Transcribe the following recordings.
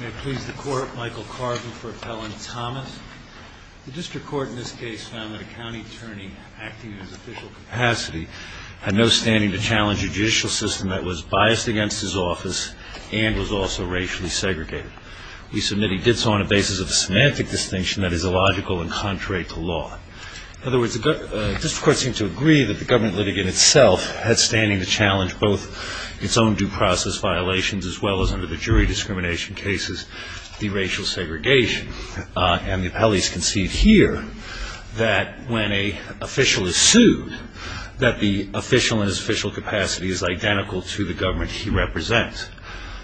May it please the Court, Michael Carvin for Appellant Thomas. The District Court in this case found that a county attorney acting in his official capacity had no standing to challenge a judicial system that was biased against his office and was also racially segregated. We submit he did so on the basis of a semantic distinction that is illogical and contrary to law. In other words, the District Court seemed to agree that the government litigant itself had standing to challenge both its own due process violations as well as under jury discrimination cases the racial segregation. And the appellees conceived here that when an official is sued that the official in his official capacity is identical to the government he represents.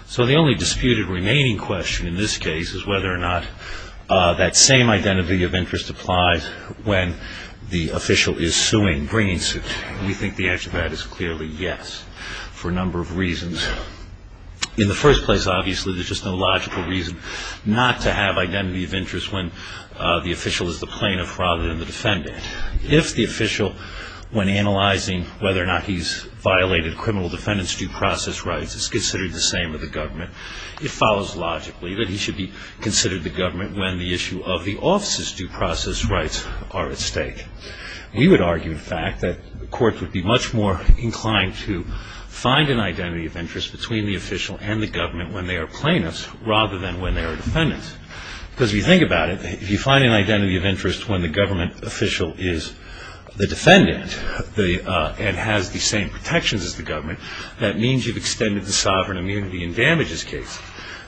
So the only disputed remaining question in this case is whether or not that same identity of interest applies when the official is suing, bringing suit. We think the answer to that is clearly yes for a number of reasons. In the first place, obviously, there's just no logical reason not to have identity of interest when the official is the plaintiff rather than the defendant. If the official, when analyzing whether or not he's violated criminal defendant's due process rights, is considered the same as the government, it follows logically that he should be considered the government when the issue of the office's find an identity of interest between the official and the government when they are plaintiffs rather than when they are defendants. Because if you think about it, if you find an identity of interest when the government official is the defendant and has the same protections as the government, that means you've extended the sovereign immunity and damages case.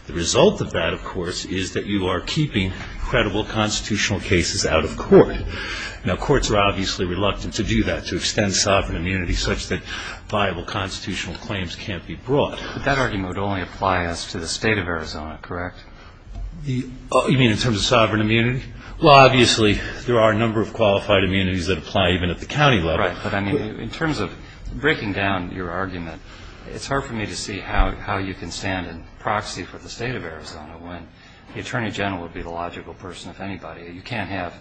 The result of that, of course, is that you are keeping credible constitutional cases out of court. Now, courts are obviously reluctant to do that, to extend sovereign immunity such that viable constitutional claims can't be brought. But that argument would only apply as to the state of Arizona, correct? You mean in terms of sovereign immunity? Well, obviously, there are a number of qualified immunities that apply even at the county level. Right. But I mean, in terms of breaking down your argument, it's hard for me to see how you can stand in proxy for the state of Arizona when the attorney general would be the logical person, if anybody. You can't have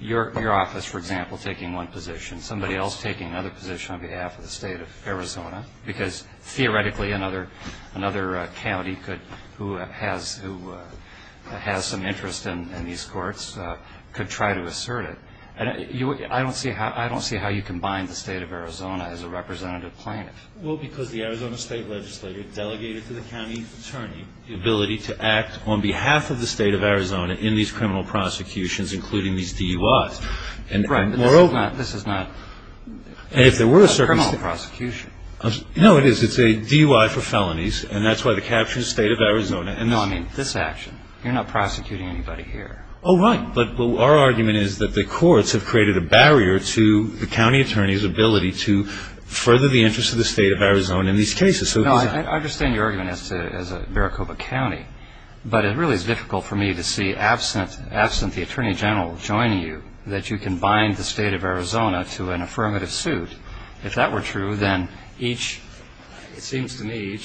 your office, for example, taking one position, somebody else taking another position on behalf of the state of Arizona, because theoretically another county who has some interest in these courts could try to assert it. I don't see how you can bind the state of Arizona as a representative plaintiff. Well, because the Arizona State Legislature delegated to the county attorney the ability to act on behalf of the state of Arizona in these criminal prosecutions, including these DUIs. Right. But this is not a criminal prosecution. No, it is. It's a DUI for felonies, and that's why the captured state of Arizona And no, I mean this action. You're not prosecuting anybody here. Oh, right. But our argument is that the courts have created a barrier to the county attorney's ability to further the interest of the state of Arizona in these cases. No, I understand your argument as a Maricopa County, but it really is difficult for me to see, absent the attorney general joining you, that you can bind the state of Arizona to an affirmative suit. If that were true, then each, it seems to me,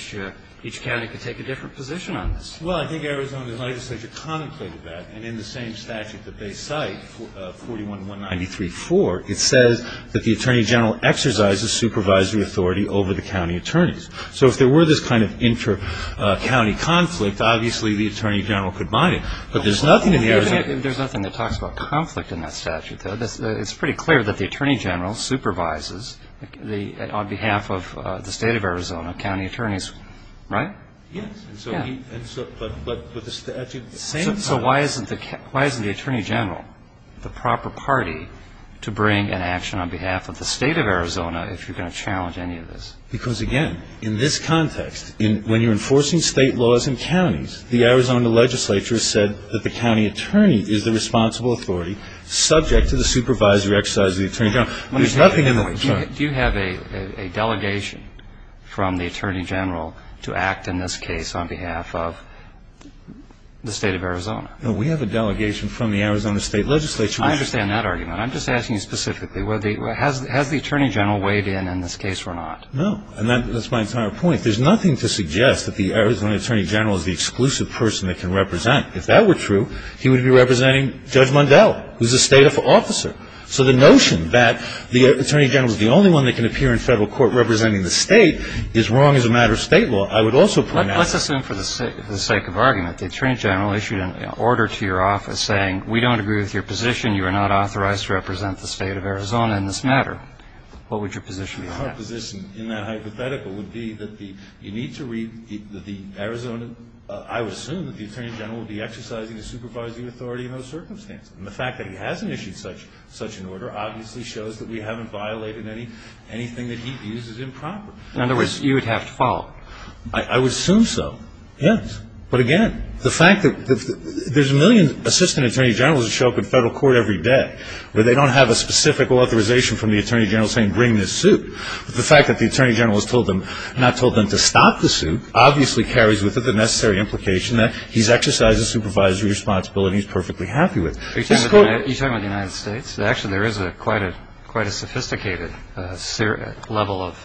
each county could take a different position on this. Well, I think Arizona's legislature contemplated that, and in the same statute that they cite, 41-193-4, it says that the attorney general exercises supervisory authority over the county attorneys. So if there were this kind of inter-county conflict, obviously the attorney general could bind it. But there's nothing in the Arizona There's nothing that talks about conflict in that statute, though. It's pretty clear that the attorney general supervises the, on behalf of the state of Arizona, county attorneys, right? Yes. Yeah. And so he, and so, but with the statute, the same So why isn't the, why isn't the attorney general the proper party to bring an action on behalf of the state of Arizona if you're going to challenge any of this? Because, again, in this context, when you're enforcing state laws in counties, the Arizona legislature has said that the county attorney is the responsible authority subject to the supervisory exercise of the attorney general. There's nothing in the Do you have a delegation from the attorney general to act in this case on behalf of the state of Arizona? No, we have a delegation from the Arizona state legislature I understand that argument. I'm just asking you specifically, has the attorney general weighed in in this case or not? No. And that's my entire point. There's nothing to suggest that the Arizona attorney general is the exclusive person that can represent. If that were true, he would be representing Judge Mondale, who's a state officer. So the notion that the attorney general is the only one that can appear in Federal court representing the state is wrong as a matter of state law. I would also point out Let's assume for the sake of argument, the attorney general issued an order to your office saying, we don't agree with your position, you are not authorized to represent My position in that hypothetical would be that you need to read the Arizona I would assume that the attorney general would be exercising the supervising authority in those circumstances. And the fact that he hasn't issued such an order obviously shows that we haven't violated anything that he views as improper. In other words, you would have to follow. I would assume so, yes. But again, the fact that there's a million assistant attorney generals that show up in Federal court every day, but they don't have a specific authorization from the attorney general saying, bring this suit. But the fact that the attorney general has told them, not told them to stop the suit, obviously carries with it the necessary implication that he's exercising supervisory responsibility and he's perfectly happy with it. Are you talking about the United States? Actually, there is quite a sophisticated level of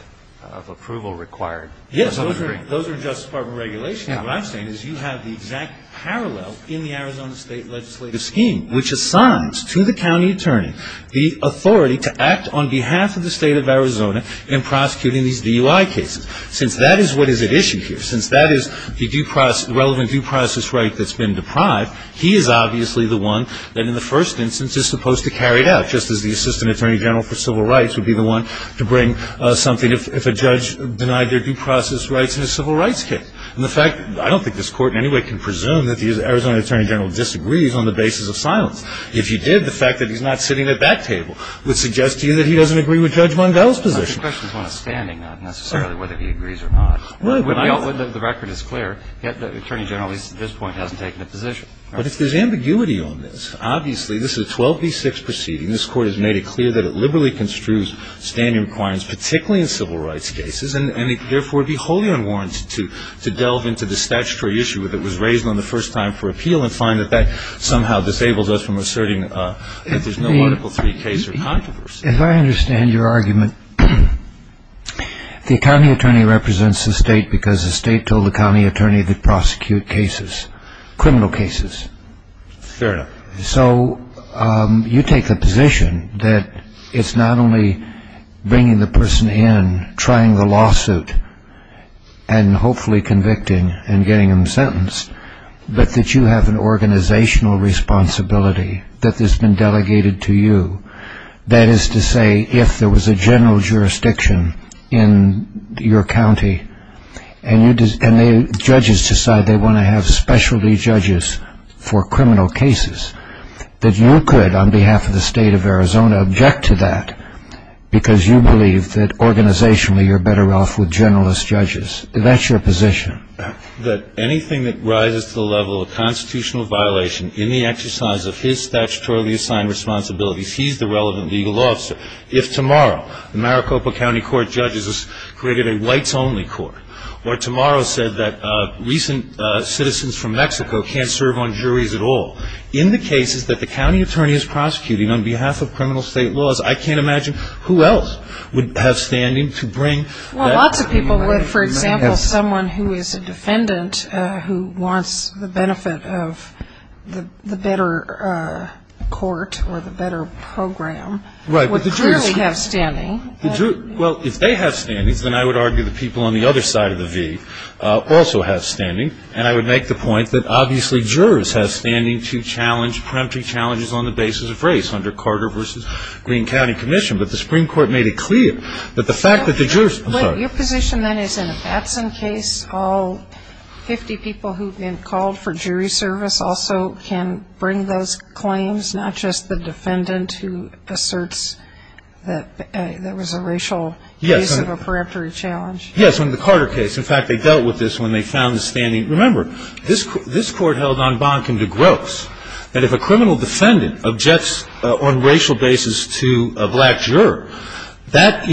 approval required. Yes, those are in Justice Department regulation. What I'm saying is you have the exact parallel in the Arizona State legislative scheme, which assigns to the authority to act on behalf of the state of Arizona in prosecuting these DUI cases. Since that is what is at issue here, since that is the relevant due process right that's been deprived, he is obviously the one that in the first instance is supposed to carry it out, just as the assistant attorney general for civil rights would be the one to bring something if a judge denied their due process rights in a civil rights case. And the fact, I don't think this court in any way can presume that the Arizona attorney general disagrees on the basis of silence. If you did, the fact that he's not sitting at that table would suggest to you that he doesn't agree with Judge Mondello's position. The question is not a standing necessarily whether he agrees or not. The record is clear. Yet the attorney general at this point hasn't taken a position. But if there's ambiguity on this, obviously this is a 12 v. 6 proceeding. This Court has made it clear that it liberally construes standing requirements, particularly in civil rights cases, and it therefore would be wholly unwarranted to delve into the statutory issue that was raised on the first time for appeal and find that that somehow disables us from asserting that there's no Article 3 case or controversy. If I understand your argument, the county attorney represents the state because the state told the county attorney to prosecute cases, criminal cases. Fair enough. So you take the position that it's not only bringing the person in, trying the lawsuit, and hopefully convicting and getting them sentenced, but that you have an organizational responsibility that has been delegated to you. That is to say, if there was a general jurisdiction in your county and judges decide they want to have specialty judges for criminal cases, that you could, on behalf of the state of Arizona, object to that because you believe that organizationally you're better off with generalist judges. That's your position. That anything that rises to the level of constitutional violation in the exercise of his statutorily assigned responsibilities, he's the relevant legal officer. If tomorrow the Maricopa County Court judges created a whites-only court, or tomorrow said that recent citizens from Mexico can't serve on juries at all, in the cases that the county attorney is prosecuting on behalf of criminal state laws, I can't imagine who else would have standing to bring that. Well, lots of people would. For example, someone who is a defendant who wants the benefit of the better court or the better program would clearly have standing. Well, if they have standings, then I would argue the people on the other side of the V also have standing. And I would make the point that obviously jurors have standing to challenge on the basis of race under Carter v. Green County Commission. But the Supreme Court made it clear that the fact that the jurors ---- Your position then is in a Batson case, all 50 people who have been called for jury service also can bring those claims, not just the defendant who asserts that there was a racial case of a peremptory challenge. Yes, in the Carter case. In fact, they dealt with this when they found the standing. Remember, this court held on Boncombe v. Gross that if a criminal defendant objects on racial basis to a black juror, that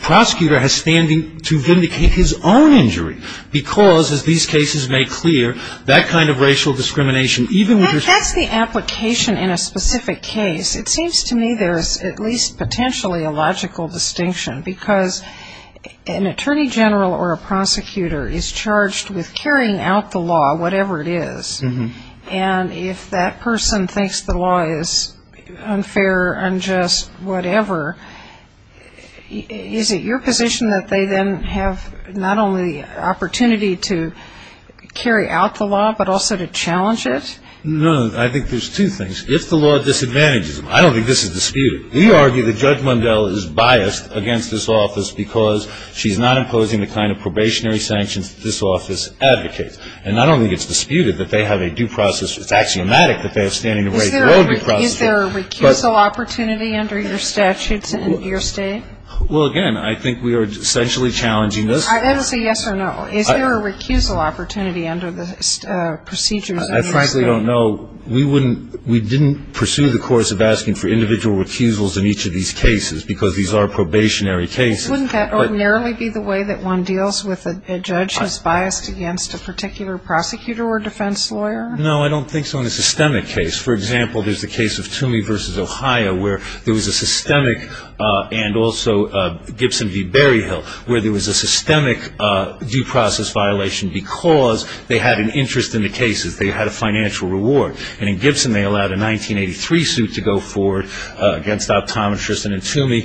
prosecutor has standing to vindicate his own injury because, as these cases make clear, that kind of racial discrimination, even with ---- If that's the application in a specific case, it seems to me there is at least potentially a logical distinction because an attorney general or a prosecutor is charged with carrying out the law, whatever it is. And if that person thinks the law is unfair, unjust, whatever, is it your position that they then have not only the opportunity to carry out the law, but also to challenge it? No, I think there's two things. If the law disadvantages them, I don't think this is disputed. We argue that Judge Mundell is biased against this office because she's not imposing the kind of probationary sanctions that this office advocates. And not only is it disputed that they have a due process, it's axiomatic that they have standing to wait for a due process. Is there a recusal opportunity under your statutes in your State? Well, again, I think we are essentially challenging this. I didn't say yes or no. Is there a recusal opportunity under the procedures in your State? I frankly don't know. We didn't pursue the course of asking for individual recusals in each of these cases because these are probationary cases. Wouldn't that ordinarily be the way that one deals with a judge who's biased against a particular prosecutor or defense lawyer? No, I don't think so in a systemic case. For example, there's the case of Toomey v. Ohio where there was a systemic and also Gibson v. Berryhill where there was a systemic due process violation because they had an interest in the cases. They had a financial reward. And in Gibson they allowed a 1983 suit to go forward against optometrists, and in Toomey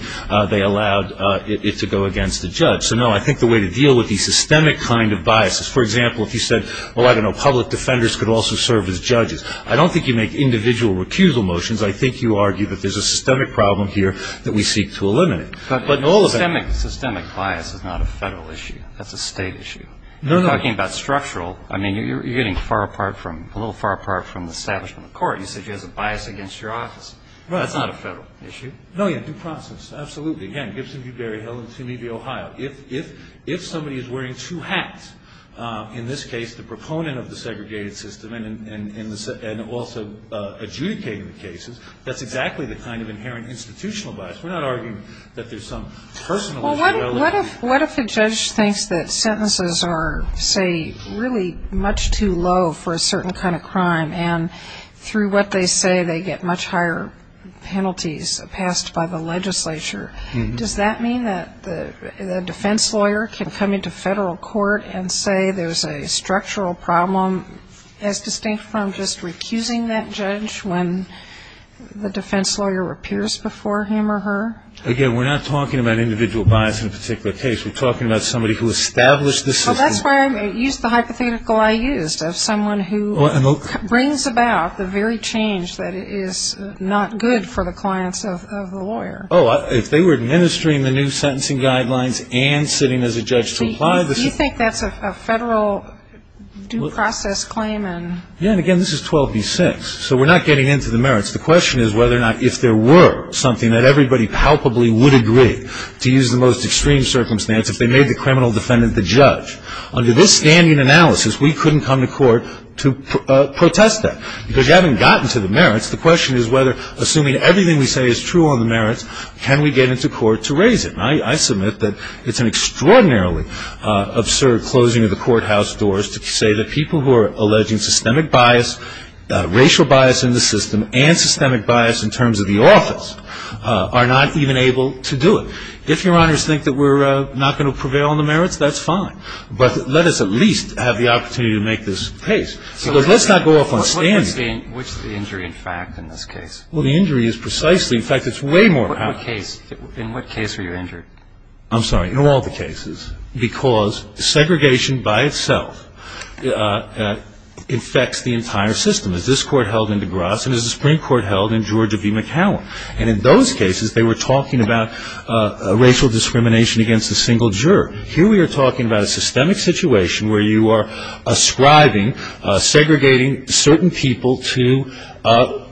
they allowed it to go against a judge. So, no, I think the way to deal with these systemic kind of biases, for example, if you said, well, I don't know, public defenders could also serve as judges, I don't think you make individual recusal motions. I think you argue that there's a systemic problem here that we seek to eliminate. But systemic bias is not a Federal issue. That's a State issue. You're talking about structural. I mean, you're getting a little far apart from the establishment of court. You said you have a bias against your office. That's not a Federal issue. No, yeah, due process, absolutely. Again, Gibson v. Berryhill and Toomey v. Ohio. If somebody is wearing two hats, in this case the proponent of the segregated system and also adjudicating the cases, that's exactly the kind of inherent institutional bias. We're not arguing that there's some personal inferiority. What if a judge thinks that sentences are, say, really much too low for a certain kind of crime and through what they say they get much higher penalties passed by the legislature? Does that mean that the defense lawyer can come into Federal court and say there's a structural problem as distinct from just recusing that judge when the defense lawyer appears before him or her? Again, we're not talking about individual bias in a particular case. We're talking about somebody who established the system. Well, that's why I used the hypothetical I used of someone who brings about the very change that is not good for the clients of the lawyer. Oh, if they were administering the new sentencing guidelines and sitting as a judge to apply the system. Do you think that's a Federal due process claim? Yeah, and again, this is 12b-6, so we're not getting into the merits. The question is whether or not if there were something that everybody palpably would agree to use the most extreme circumstance if they made the criminal defendant the judge. Under this standing analysis, we couldn't come to court to protest that. Because we haven't gotten to the merits, the question is whether, assuming everything we say is true on the merits, can we get into court to raise it? And I submit that it's an extraordinarily absurd closing of the courthouse doors to say that people who are alleging systemic bias, racial bias in the system, and systemic bias in terms of the office are not even able to do it. If Your Honors think that we're not going to prevail on the merits, that's fine. But let us at least have the opportunity to make this case. Because let's not go off on standing. Which is the injury, in fact, in this case? Well, the injury is precisely, in fact, it's way more powerful. In what case are you injured? I'm sorry, in all the cases. Because segregation by itself infects the entire system. Is this court held in DeGrasse and is the Supreme Court held in Georgia v. McCowan? And in those cases, they were talking about racial discrimination against a single juror. Here we are talking about a systemic situation where you are ascribing, segregating certain people to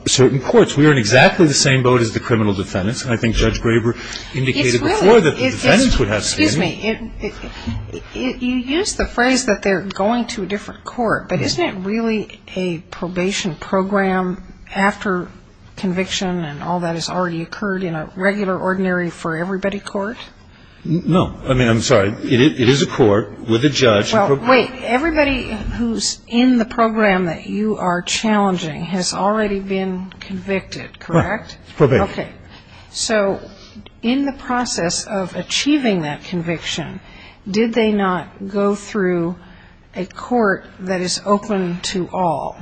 certain courts. We are in exactly the same boat as the criminal defendants. And I think Judge Graber indicated before that the defendants would have systemic. Excuse me. You used the phrase that they're going to a different court. But isn't it really a probation program after conviction and all that has already occurred in a regular, ordinary-for-everybody court? No. I mean, I'm sorry. It is a court with a judge. Well, wait. Everybody who's in the program that you are challenging has already been convicted, correct? Right. Okay. Okay. So in the process of achieving that conviction, did they not go through a court that is open to all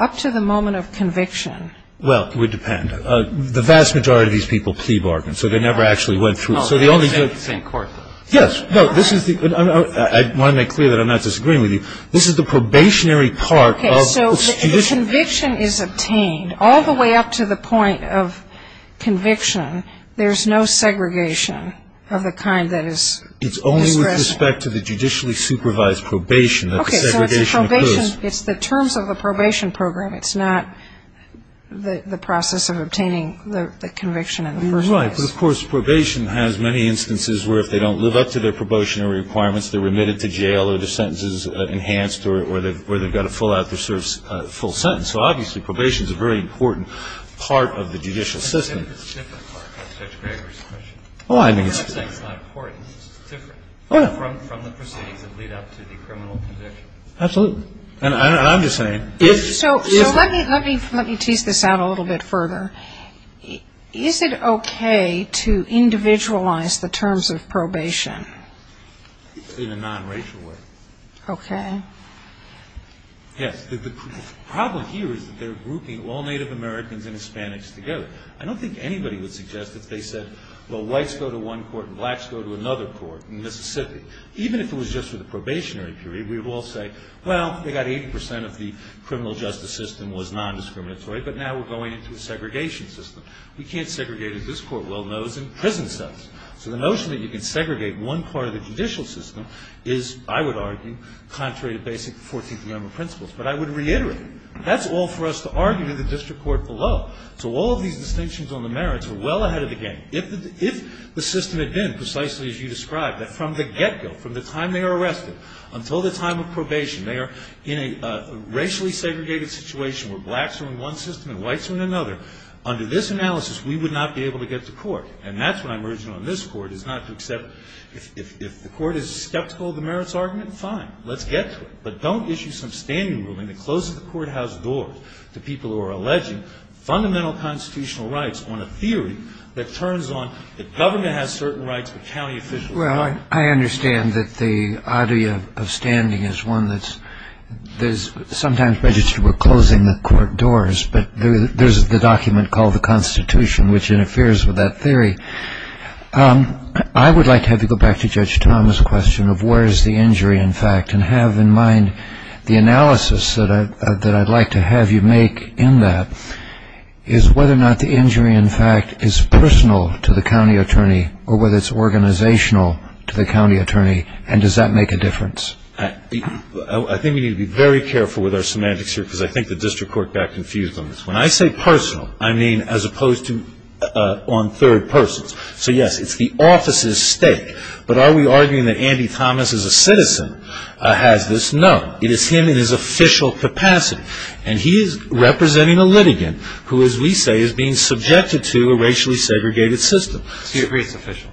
up to the moment of conviction? Well, it would depend. The vast majority of these people plea bargain. So they never actually went through. So the only good thing. It's the same court, though. Yes. No. I want to make clear that I'm not disagreeing with you. This is the probationary part of this tradition. When conviction is obtained all the way up to the point of conviction, there's no segregation of the kind that is expressed. It's only with respect to the judicially supervised probation that the segregation occurs. Okay. So it's the probation. It's the terms of the probation program. It's not the process of obtaining the conviction in the first place. You're right. But, of course, probation has many instances where if they don't live up to their probationary requirements, they're remitted to jail or their sentence is enhanced or they've got to fill out their full sentence. So, obviously, probation is a very important part of the judicial system. I think it's a different part, Judge Greger's question. Oh, I think it's different. I'm not saying it's not important. It's different from the proceedings that lead up to the criminal conviction. Absolutely. And I'm just saying. So let me tease this out a little bit further. Is it okay to individualize the terms of probation? In a non-racial way. Okay. Yes. The problem here is that they're grouping all Native Americans and Hispanics together. I don't think anybody would suggest that they said, well, whites go to one court and blacks go to another court in Mississippi. Even if it was just for the probationary period, we would all say, well, they got 80 percent of the criminal justice system was nondiscriminatory, but now we're going into a segregation system. We can't segregate, as this Court well knows, in prison cells. So the notion that you can segregate one part of the judicial system is, I would argue, contrary to basic 14th Amendment principles. But I would reiterate, that's all for us to argue in the district court below. So all of these distinctions on the merits are well ahead of the game. If the system had been precisely as you described, that from the get-go, from the time they are arrested until the time of probation, they are in a racially segregated situation where blacks are in one system and whites are in another. Under this analysis, we would not be able to get to court. And that's what I'm urging on this Court, is not to accept. If the Court is skeptical of the merits argument, fine. Let's get to it. But don't issue some standing ruling that closes the courthouse doors to people who are alleging fundamental constitutional rights on a theory that turns on that government has certain rights, but county officials don't. Kennedy. Well, I understand that the idea of standing is one that's sometimes registered with closing the court doors, but there's the document called the Constitution which interferes with that theory. I would like to have you go back to Judge Thomas' question of where is the injury in fact, and have in mind the analysis that I'd like to have you make in that, is whether or not the injury in fact is personal to the county attorney or whether it's organizational to the county attorney, and does that make a difference? I think we need to be very careful with our semantics here, because I think the district court got confused on this one. When I say personal, I mean as opposed to on third persons. So, yes, it's the office's stake. But are we arguing that Andy Thomas as a citizen has this? No. It is him in his official capacity. And he is representing a litigant who, as we say, is being subjected to a racially segregated system. So you agree it's official?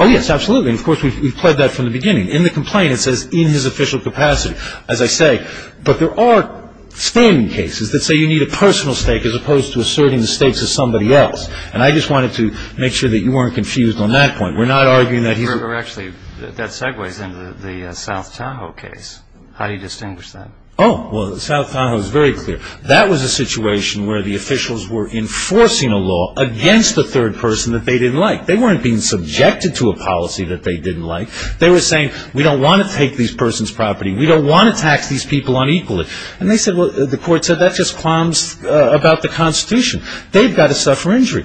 Oh, yes, absolutely. And, of course, we've pled that from the beginning. In the complaint it says in his official capacity, as I say. But there are standing cases that say you need a personal stake as opposed to asserting the stakes of somebody else. And I just wanted to make sure that you weren't confused on that point. We're not arguing that he's a ---- Actually, that segues into the South Tahoe case. How do you distinguish that? Oh, well, South Tahoe is very clear. That was a situation where the officials were enforcing a law against the third person that they didn't like. They weren't being subjected to a policy that they didn't like. They were saying, we don't want to take this person's property. We don't want to tax these people unequally. And they said, well, the court said, that's just qualms about the Constitution. They've got to suffer injury.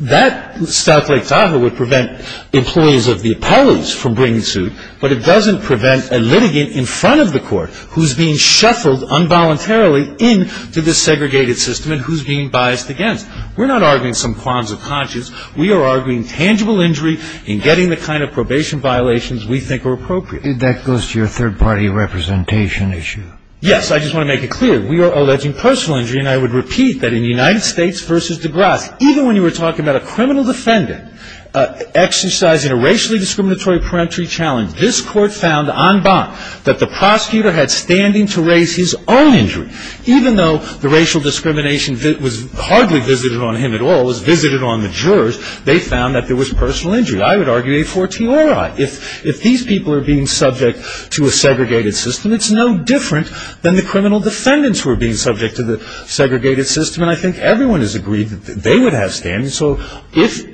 That South Lake Tahoe would prevent employees of the appellate's from bringing suit, but it doesn't prevent a litigant in front of the court who's being shuffled involuntarily into this segregated system and who's being biased against. We're not arguing some qualms of conscience. We are arguing tangible injury and getting the kind of probation violations we think are appropriate. That goes to your third party representation issue. Yes. I just want to make it clear. We are alleging personal injury, and I would repeat that in United States v. DeGrasse, even when you were talking about a criminal defendant exercising a racially discriminatory peremptory challenge, this court found en bas that the prosecutor had standing to raise his own injury. Even though the racial discrimination was hardly visited on him at all, it was visited on the jurors, they found that there was personal injury. I would argue a fortiori. If these people are being subject to a segregated system, it's no different than the criminal defendants who are being subject to the segregated system, and I think everyone has agreed that they would have standing. So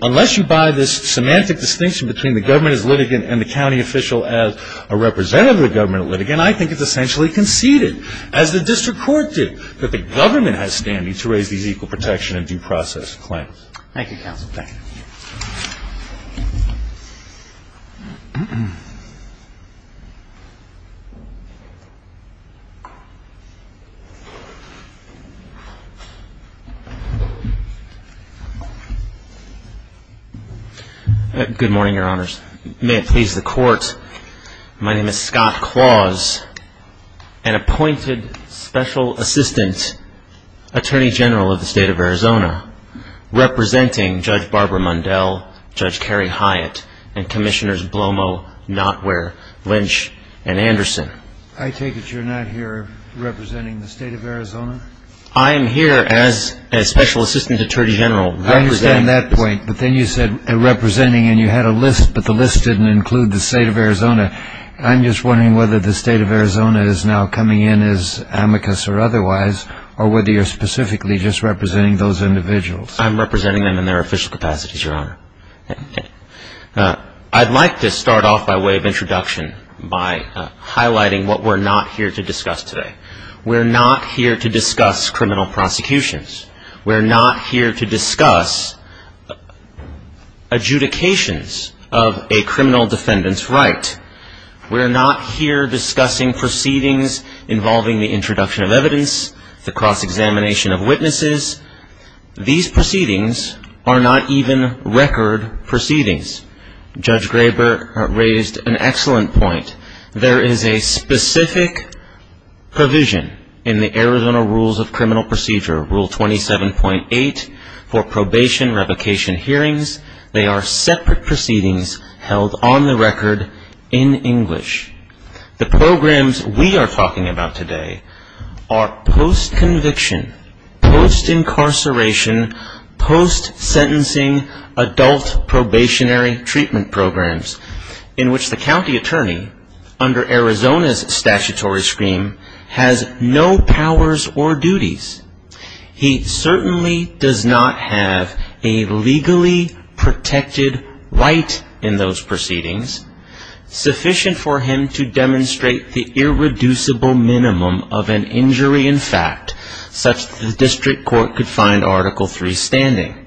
unless you buy this semantic distinction between the government as litigant and the county official as a representative of the government litigant, I think it's essentially conceded, as the district court did, that the government has standing to raise these equal protection and due process claims. Thank you, counsel. Thank you. Good morning, Your Honors. May it please the court, my name is Scott Claus, an appointed special assistant attorney general of the state of Arizona, representing Judge Barbara Mundell, Judge Carrie Hyatt, and Commissioners Blomo, Notware, Lynch, and Anderson. I take it you're not here representing the state of Arizona? I am here as special assistant attorney general. I understand that point, but then you said representing, and you had a list, but the list didn't include the state of Arizona. I'm just wondering whether the state of Arizona is now coming in as amicus or otherwise, or whether you're specifically just representing those individuals. I'm representing them in their official capacities, Your Honor. I'd like to start off by way of introduction, by highlighting what we're not here to discuss today. We're not here to discuss criminal prosecutions. We're not here to discuss adjudications of a criminal defendant's right. We're not here discussing proceedings involving the introduction of evidence, the cross-examination of witnesses. These proceedings are not even record proceedings. Judge Graber raised an excellent point. There is a specific provision in the Arizona Rules of Criminal Procedure, Rule 27.8, for probation, revocation hearings. They are separate proceedings held on the record in English. The programs we are talking about today are post-conviction, post-incarceration, post-sentencing adult probationary treatment programs, in which the county attorney, has no powers or duties. He certainly does not have a legally protected right in those proceedings, sufficient for him to demonstrate the irreducible minimum of an injury in fact, such that the district court could find Article III standing.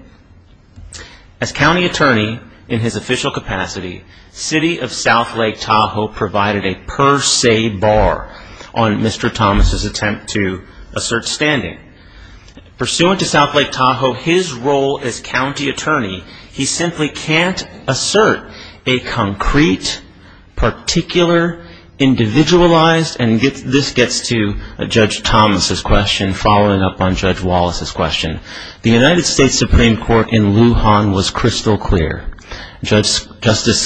As county attorney in his official capacity, City of South Lake Tahoe provided a per se bar on Mr. Thomas' attempt to assert standing. Pursuant to South Lake Tahoe, his role as county attorney, he simply can't assert a concrete, particular, individualized, and this gets to Judge Thomas' question, following up on Judge Wallace's question. The United States Supreme Court in Lujan was crystal clear. Justice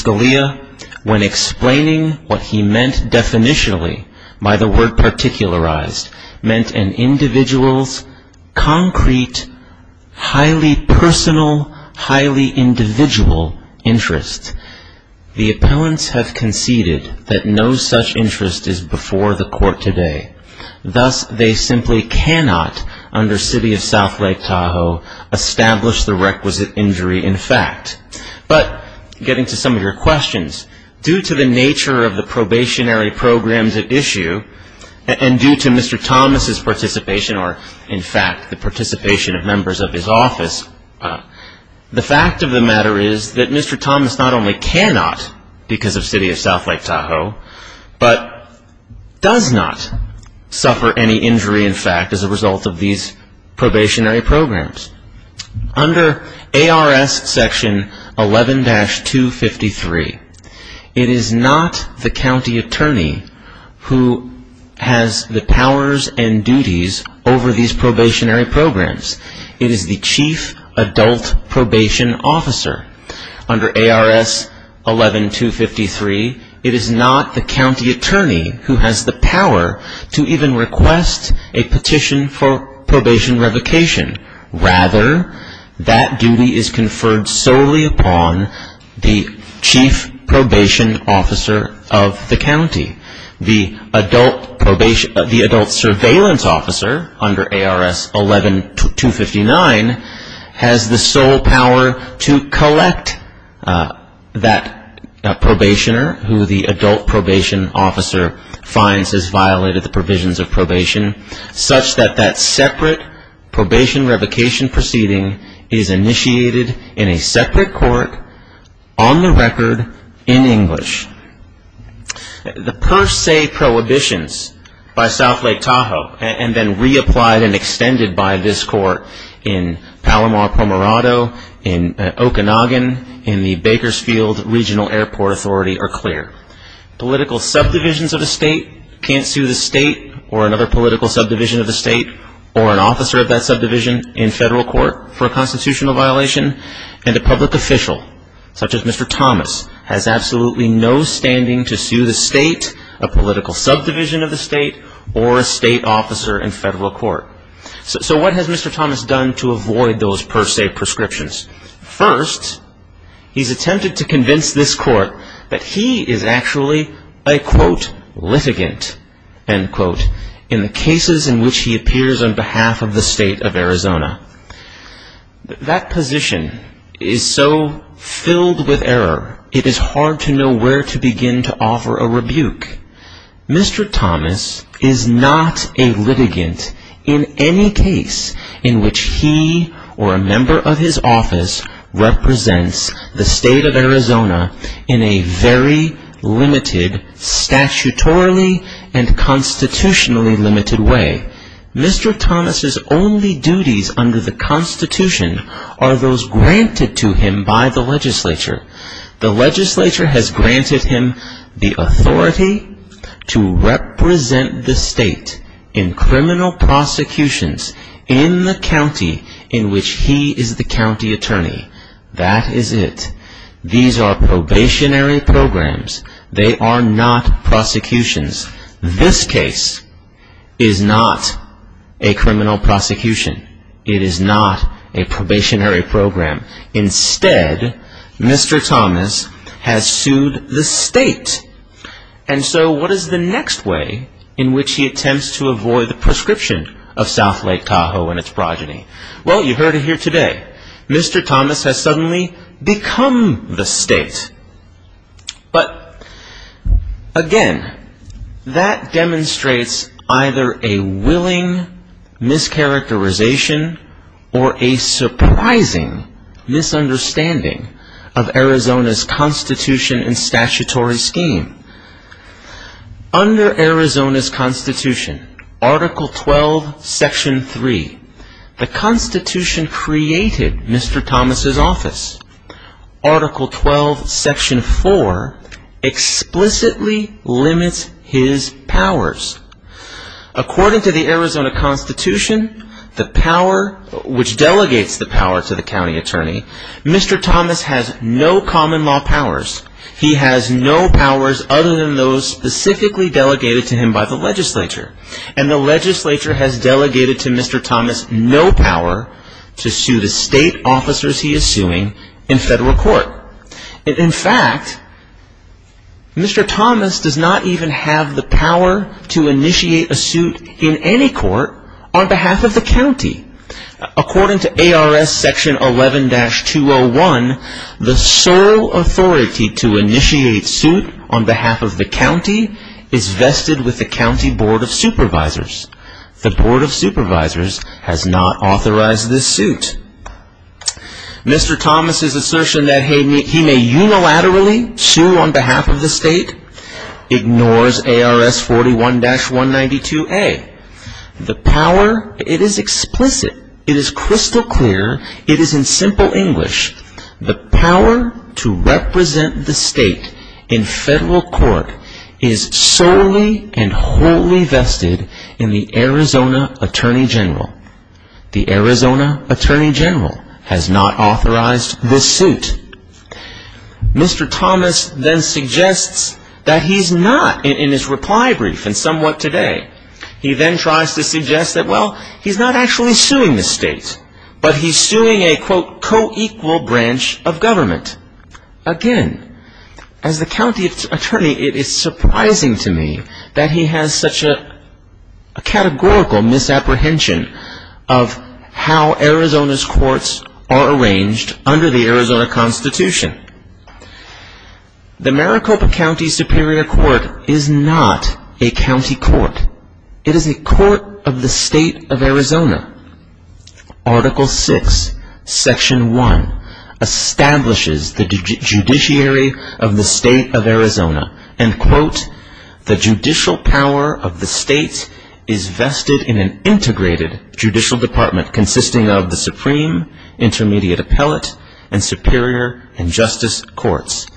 Scalia, when explaining what he meant definitionally, by the word particularized, meant an individual's concrete, highly personal, highly individual interest. The appellants have conceded that no such interest is before the court today. Thus, they simply cannot, under City of South Lake Tahoe, establish the requisite injury in fact. But getting to some of your questions, due to the nature of the probationary programs at issue, and due to Mr. Thomas' participation, or in fact the participation of members of his office, the fact of the matter is that Mr. Thomas not only cannot, because of City of South Lake Tahoe, but does not suffer any injury in fact, as a result of these probationary programs. Under ARS section 11-253, it is not the county attorney who has the powers and duties over these probationary programs. It is the chief adult probation officer. Under ARS 11-253, it is not the county attorney who has the power to even request a petition for probation revocation. Rather, that duty is conferred solely upon the chief probation officer of the county. The adult surveillance officer, under ARS 11-259, has the sole power to collect that probationer, who the adult probation officer finds has violated the provisions of probation, such that that separate probation revocation proceeding is initiated in a separate court, on the record, in English. The per se prohibitions by South Lake Tahoe, and then reapplied and extended by this court in Palomar, Pomerado, in Okanagan, in the Bakersfield Regional Airport Authority, are clear. Political subdivisions of a state can't sue the state, or another political subdivision of the state, or an officer of that subdivision in federal court for a constitutional violation. And a public official, such as Mr. Thomas, has absolutely no standing to sue the state, a political subdivision of the state, or a state officer in federal court. So what has Mr. Thomas done to avoid those per se prescriptions? First, he's attempted to convince this court that he is actually a, quote, litigant, end quote, in the cases in which he appears on behalf of the state of Arizona. That position is so filled with error, it is hard to know where to begin to offer a rebuke. Mr. Thomas is not a litigant in any case in which he or a member of his office represents the state of Arizona in a very limited, statutorily and constitutionally limited way. Mr. Thomas's only duties under the Constitution are those granted to him by the legislature. The legislature has granted him the authority to represent the state in criminal prosecutions in the county in which he is the county attorney. That is it. These are probationary programs. They are not prosecutions. This case is not a criminal prosecution. It is not a probationary program. Instead, Mr. Thomas has sued the state. And so what is the next way in which he attempts to avoid the prescription of South Lake Tahoe and its progeny? Well, you heard it here today. Mr. Thomas has suddenly become the state. But, again, that demonstrates either a willing mischaracterization or a surprising misunderstanding of Arizona's Constitution and statutory scheme. Under Arizona's Constitution, Article 12, Section 3, the Constitution created Mr. Thomas's office. Article 12, Section 4 explicitly limits his powers. According to the Arizona Constitution, which delegates the power to the county attorney, Mr. Thomas has no common law powers. He has no powers other than those specifically delegated to him by the legislature. And the legislature has delegated to Mr. Thomas no power to sue the state officers he is suing in federal court. In fact, Mr. Thomas does not even have the power to initiate a suit in any court on behalf of the county. According to ARS Section 11-201, the sole authority to initiate suit on behalf of the county is vested with the county board of supervisors. The board of supervisors has not authorized this suit. Mr. Thomas's assertion that he may unilaterally sue on behalf of the state ignores ARS 41-192A. The power, it is explicit, it is crystal clear, it is in simple English. The power to represent the state in federal court is solely and wholly vested in the Arizona Attorney General. The Arizona Attorney General has not authorized this suit. Mr. Thomas then suggests that he's not, in his reply brief and somewhat today, he then tries to suggest that, well, he's not actually suing the state, but he's suing a, quote, co-equal branch of government. Again, as the county attorney, it is surprising to me that he has such a categorical misapprehension of how Arizona's courts are arranged under the Arizona Constitution. The Maricopa County Superior Court is not a county court. It is a court of the state of Arizona. Article 6, Section 1, establishes the judiciary of the state of Arizona, and, quote, the judicial power of the state is vested in an integrated judicial department consisting of the Supreme Intermediate Appellate and Superior and Justice Courts.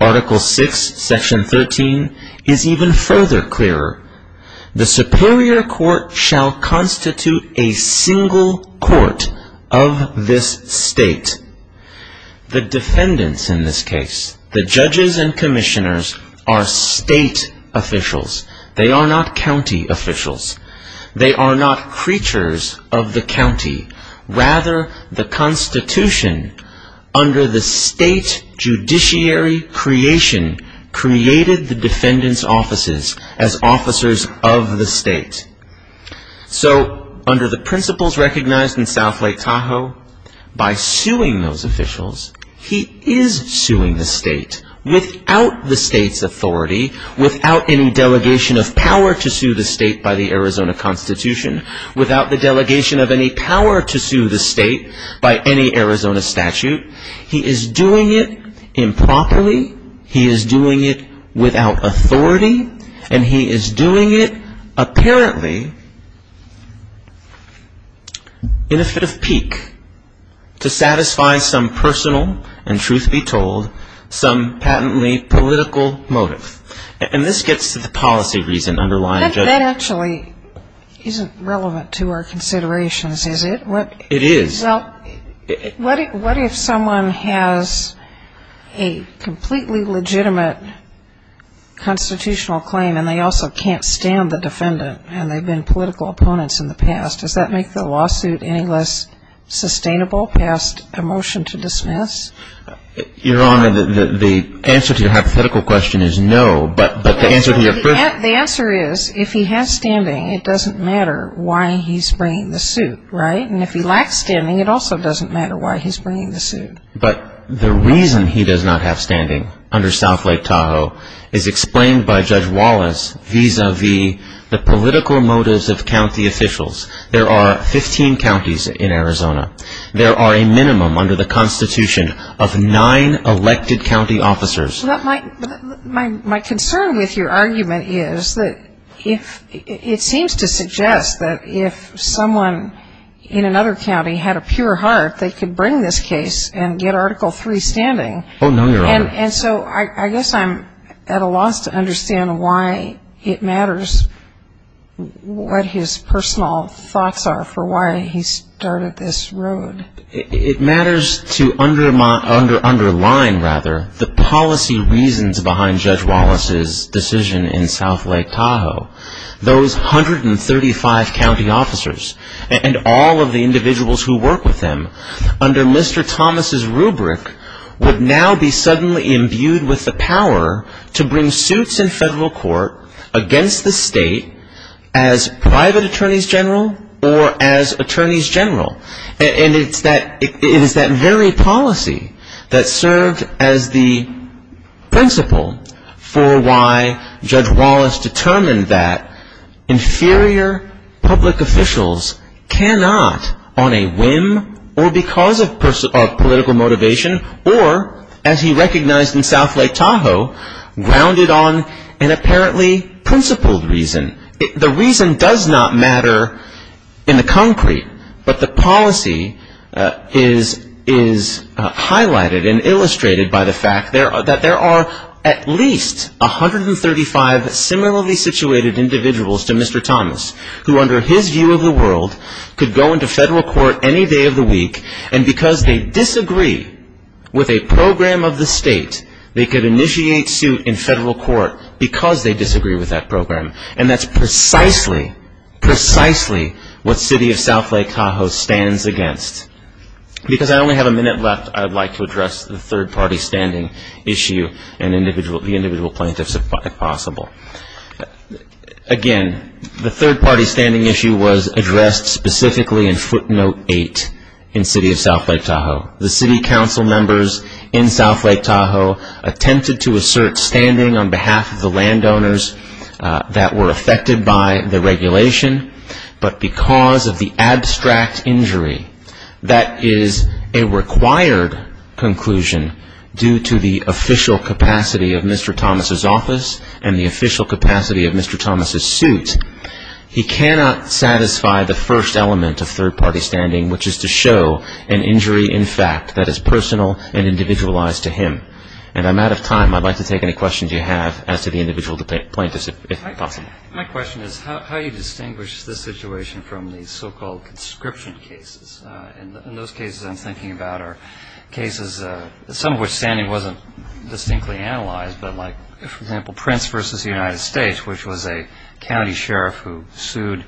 Article 6, Section 13 is even further clearer. The Superior Court shall constitute a single court of this state. The defendants in this case, the judges and commissioners, are state officials. They are not county officials. They are not creatures of the county. Rather, the Constitution, under the state judiciary creation, created the defendants' offices as officers of the state. So, under the principles recognized in South Lake Tahoe, by suing those officials, he is suing the state without the state's authority, without any delegation of power to sue the state by the Arizona Constitution, without the delegation of any power to sue the state by any Arizona statute. He is doing it improperly. He is doing it without authority. And he is doing it, apparently, in a fit of pique, to satisfy some personal and, truth be told, some patently political motive. And this gets to the policy reason underlying judgment. That actually isn't relevant to our considerations, is it? It is. Well, what if someone has a completely legitimate constitutional claim and they also can't stand the defendant and they've been political opponents in the past? Does that make the lawsuit any less sustainable, passed a motion to dismiss? Your Honor, the answer to your hypothetical question is no. But the answer to your first question is no. The answer is, if he has standing, it doesn't matter why he's bringing the suit, right? And if he lacks standing, it also doesn't matter why he's bringing the suit. But the reason he does not have standing under South Lake Tahoe is explained by Judge Wallace vis-à-vis the political motives of county officials. There are 15 counties in Arizona. There are a minimum under the Constitution of nine elected county officers. My concern with your argument is that it seems to suggest that if someone in another county had a pure heart, they could bring this case and get Article III standing. Oh, no, Your Honor. And so I guess I'm at a loss to understand why it matters what his personal thoughts are for why he started this road. It matters to underline, rather, the policy reasons behind Judge Wallace's decision in South Lake Tahoe. Those 135 county officers and all of the individuals who work with them under Mr. Thomas' rubric would now be suddenly imbued with the power to bring suits in federal court against the state as private attorneys general or as attorneys general. And it's that very policy that served as the principle for why Judge Wallace determined that inferior public officials cannot, on a whim or because of political motivation or, as he recognized in South Lake Tahoe, grounded on an apparently principled reason. The reason does not matter in the concrete, but the policy is highlighted and illustrated by the fact that there are at least 135 similarly situated individuals to Mr. Thomas who, under his view of the world, could go into federal court any day of the week. And because they disagree with a program of the state, they could initiate suit in federal court because they disagree with that program. And that's precisely, precisely what City of South Lake Tahoe stands against. Because I only have a minute left, I'd like to address the third-party standing issue and the individual plaintiffs, if possible. Again, the third-party standing issue was addressed specifically in footnote 8 in City of South Lake Tahoe. The city council members in South Lake Tahoe attempted to assert, standing on behalf of the landowners, that were affected by the regulation, but because of the abstract injury that is a required conclusion due to the official capacity of Mr. Thomas's office and the official capacity of Mr. Thomas's suit, he cannot satisfy the first element of third-party standing, which is to show an injury, in fact, that is personal and individualized to him. My question is how you distinguish this situation from the so-called conscription cases. In those cases I'm thinking about are cases, some of which standing wasn't distinctly analyzed, but like, for example, Prince versus the United States, which was a county sheriff who sued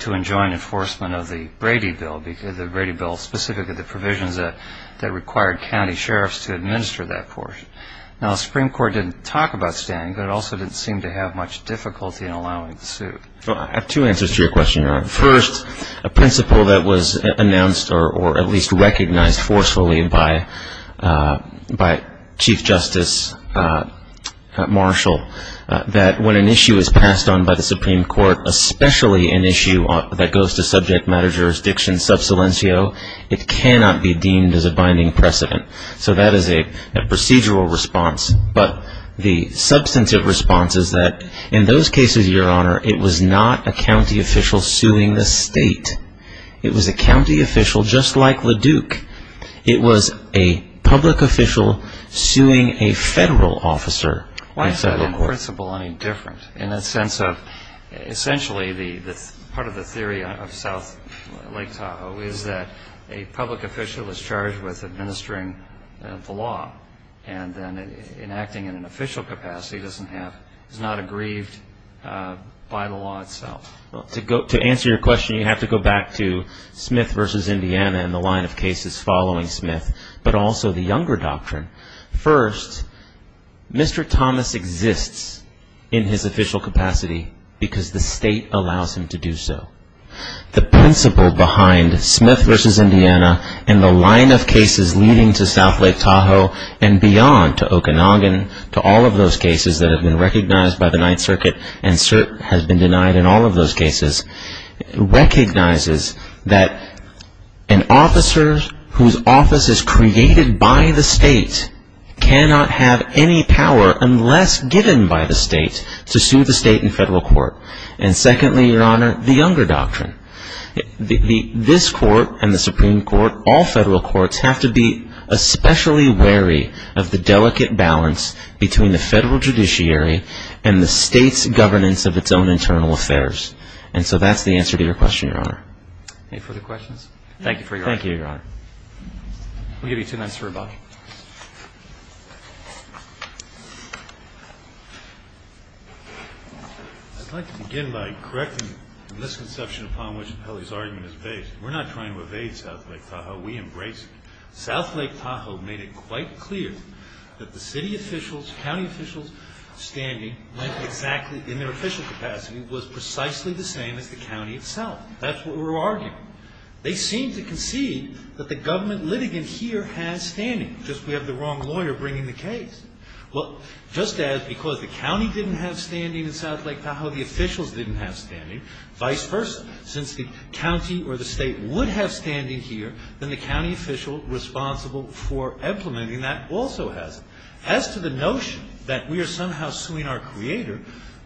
to enjoin enforcement of the Brady Bill, the Brady Bill specifically the provisions that required county sheriffs to administer that portion. Now, the Supreme Court didn't talk about standing, but it also didn't seem to have much difficulty in allowing the suit. Well, I have two answers to your question, Your Honor. First, a principle that was announced or at least recognized forcefully by Chief Justice Marshall, that when an issue is passed on by the Supreme Court, especially an issue that goes to subject matter jurisdiction sub silencio, it cannot be deemed as a binding precedent. So that is a procedural response. But the substantive response is that in those cases, Your Honor, it was not a county official suing the state. It was a county official just like LaDuke. It was a public official suing a federal officer. Why is that in principle any different in the sense of essentially part of the theory of South Lake Tahoe is that a public official is charged with administering the law, and then enacting in an official capacity is not aggrieved by the law itself. To answer your question, you have to go back to Smith versus Indiana and the line of cases following Smith, but also the younger doctrine. First, Mr. Thomas exists in his official capacity because the state allows him to do so. The principle behind Smith versus Indiana and the line of cases leading to South Lake Tahoe and beyond, to Okanagan, to all of those cases that have been recognized by the Ninth Circuit and has been denied in all of those cases, recognizes that an officer whose office is created by the state, cannot have any power unless given by the state to sue the state in federal court. And secondly, Your Honor, the younger doctrine. This court and the Supreme Court, all federal courts, have to be especially wary of the delicate balance between the federal judiciary and the state's governance of its own internal affairs. And so that's the answer to your question, Your Honor. Any further questions? Thank you for your answer. Thank you, Your Honor. We'll give you two minutes for rebuttal. I'd like to begin by correcting the misconception upon which Appelli's argument is based. We're not trying to evade South Lake Tahoe. We embrace it. South Lake Tahoe made it quite clear that the city officials, county officials' standing in their official capacity was precisely the same as the county itself. That's what we're arguing. They seem to concede that the government litigant here has standing, just we have the wrong lawyer bringing the case. Well, just as because the county didn't have standing in South Lake Tahoe, the officials didn't have standing, vice versa. Since the county or the state would have standing here, then the county official responsible for implementing that also has it. As to the notion that we are somehow suing our creator,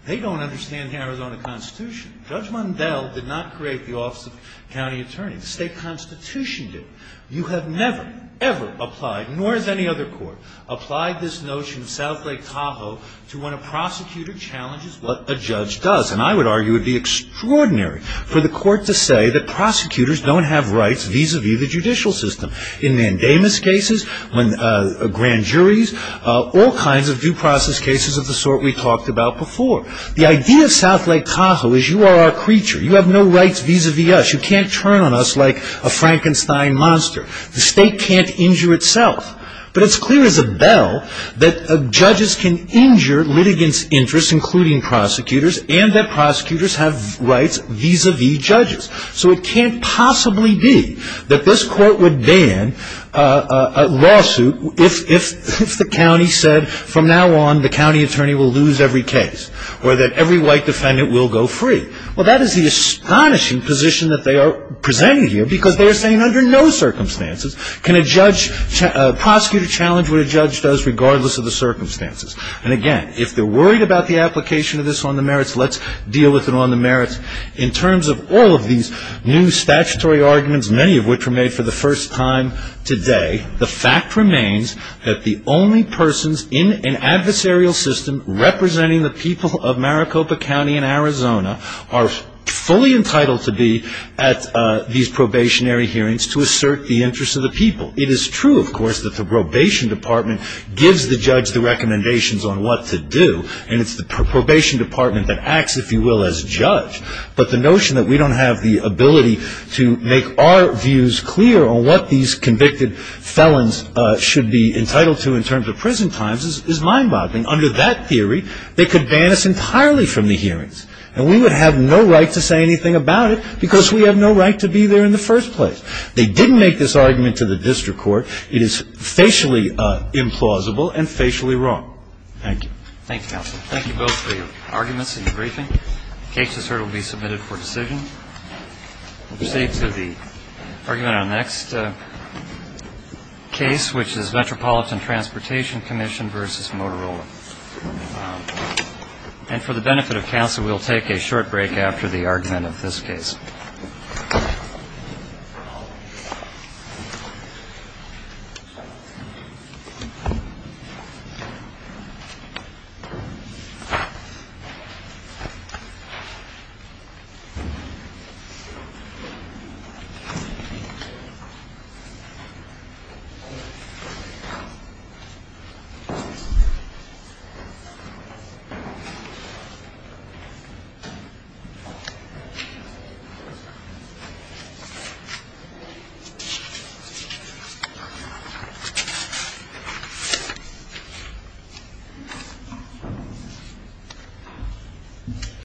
they don't understand the Arizona Constitution. Judge Mundell did not create the office of county attorney. The state constitution did. You have never, ever applied, nor has any other court applied this notion of South Lake Tahoe to when a prosecutor challenges what a judge does. And I would argue it would be extraordinary for the court to say that prosecutors don't have rights vis-a-vis the judicial system. In mandamus cases, grand juries, all kinds of due process cases of the sort we talked about before. The idea of South Lake Tahoe is you are our creature. You have no rights vis-a-vis us. You can't turn on us like a Frankenstein monster. The state can't injure itself. But it's clear as a bell that judges can injure litigants' interests, including prosecutors, and that prosecutors have rights vis-a-vis judges. So it can't possibly be that this court would ban a lawsuit if the county said from now on the county attorney will lose every case. Or that every white defendant will go free. Well, that is the astonishing position that they are presenting here. Because they are saying under no circumstances can a judge, prosecutor challenge what a judge does regardless of the circumstances. And again, if they're worried about the application of this on the merits, let's deal with it on the merits. In terms of all of these new statutory arguments, many of which were made for the first time today, the fact remains that the only persons in an adversarial system representing the people of Maricopa County in Arizona are fully entitled to be at these probationary hearings to assert the interests of the people. It is true, of course, that the probation department gives the judge the recommendations on what to do, and it's the probation department that acts, if you will, as judge. But the notion that we don't have the ability to make our views clear on what these convicted felons should be entitled to in terms of prison times is mind-boggling. Under that theory, they could ban us entirely from the hearings. And we would have no right to say anything about it because we have no right to be there in the first place. They didn't make this argument to the district court. It is facially implausible and facially wrong. Thank you. Thank you, counsel. Thank you both for your arguments and your briefing. The case, as heard, will be submitted for decision. We'll proceed to the argument on the next case, which is Metropolitan Transportation Commission v. Motorola. And for the benefit of counsel, we'll take a short break after the argument of this case. Thank you.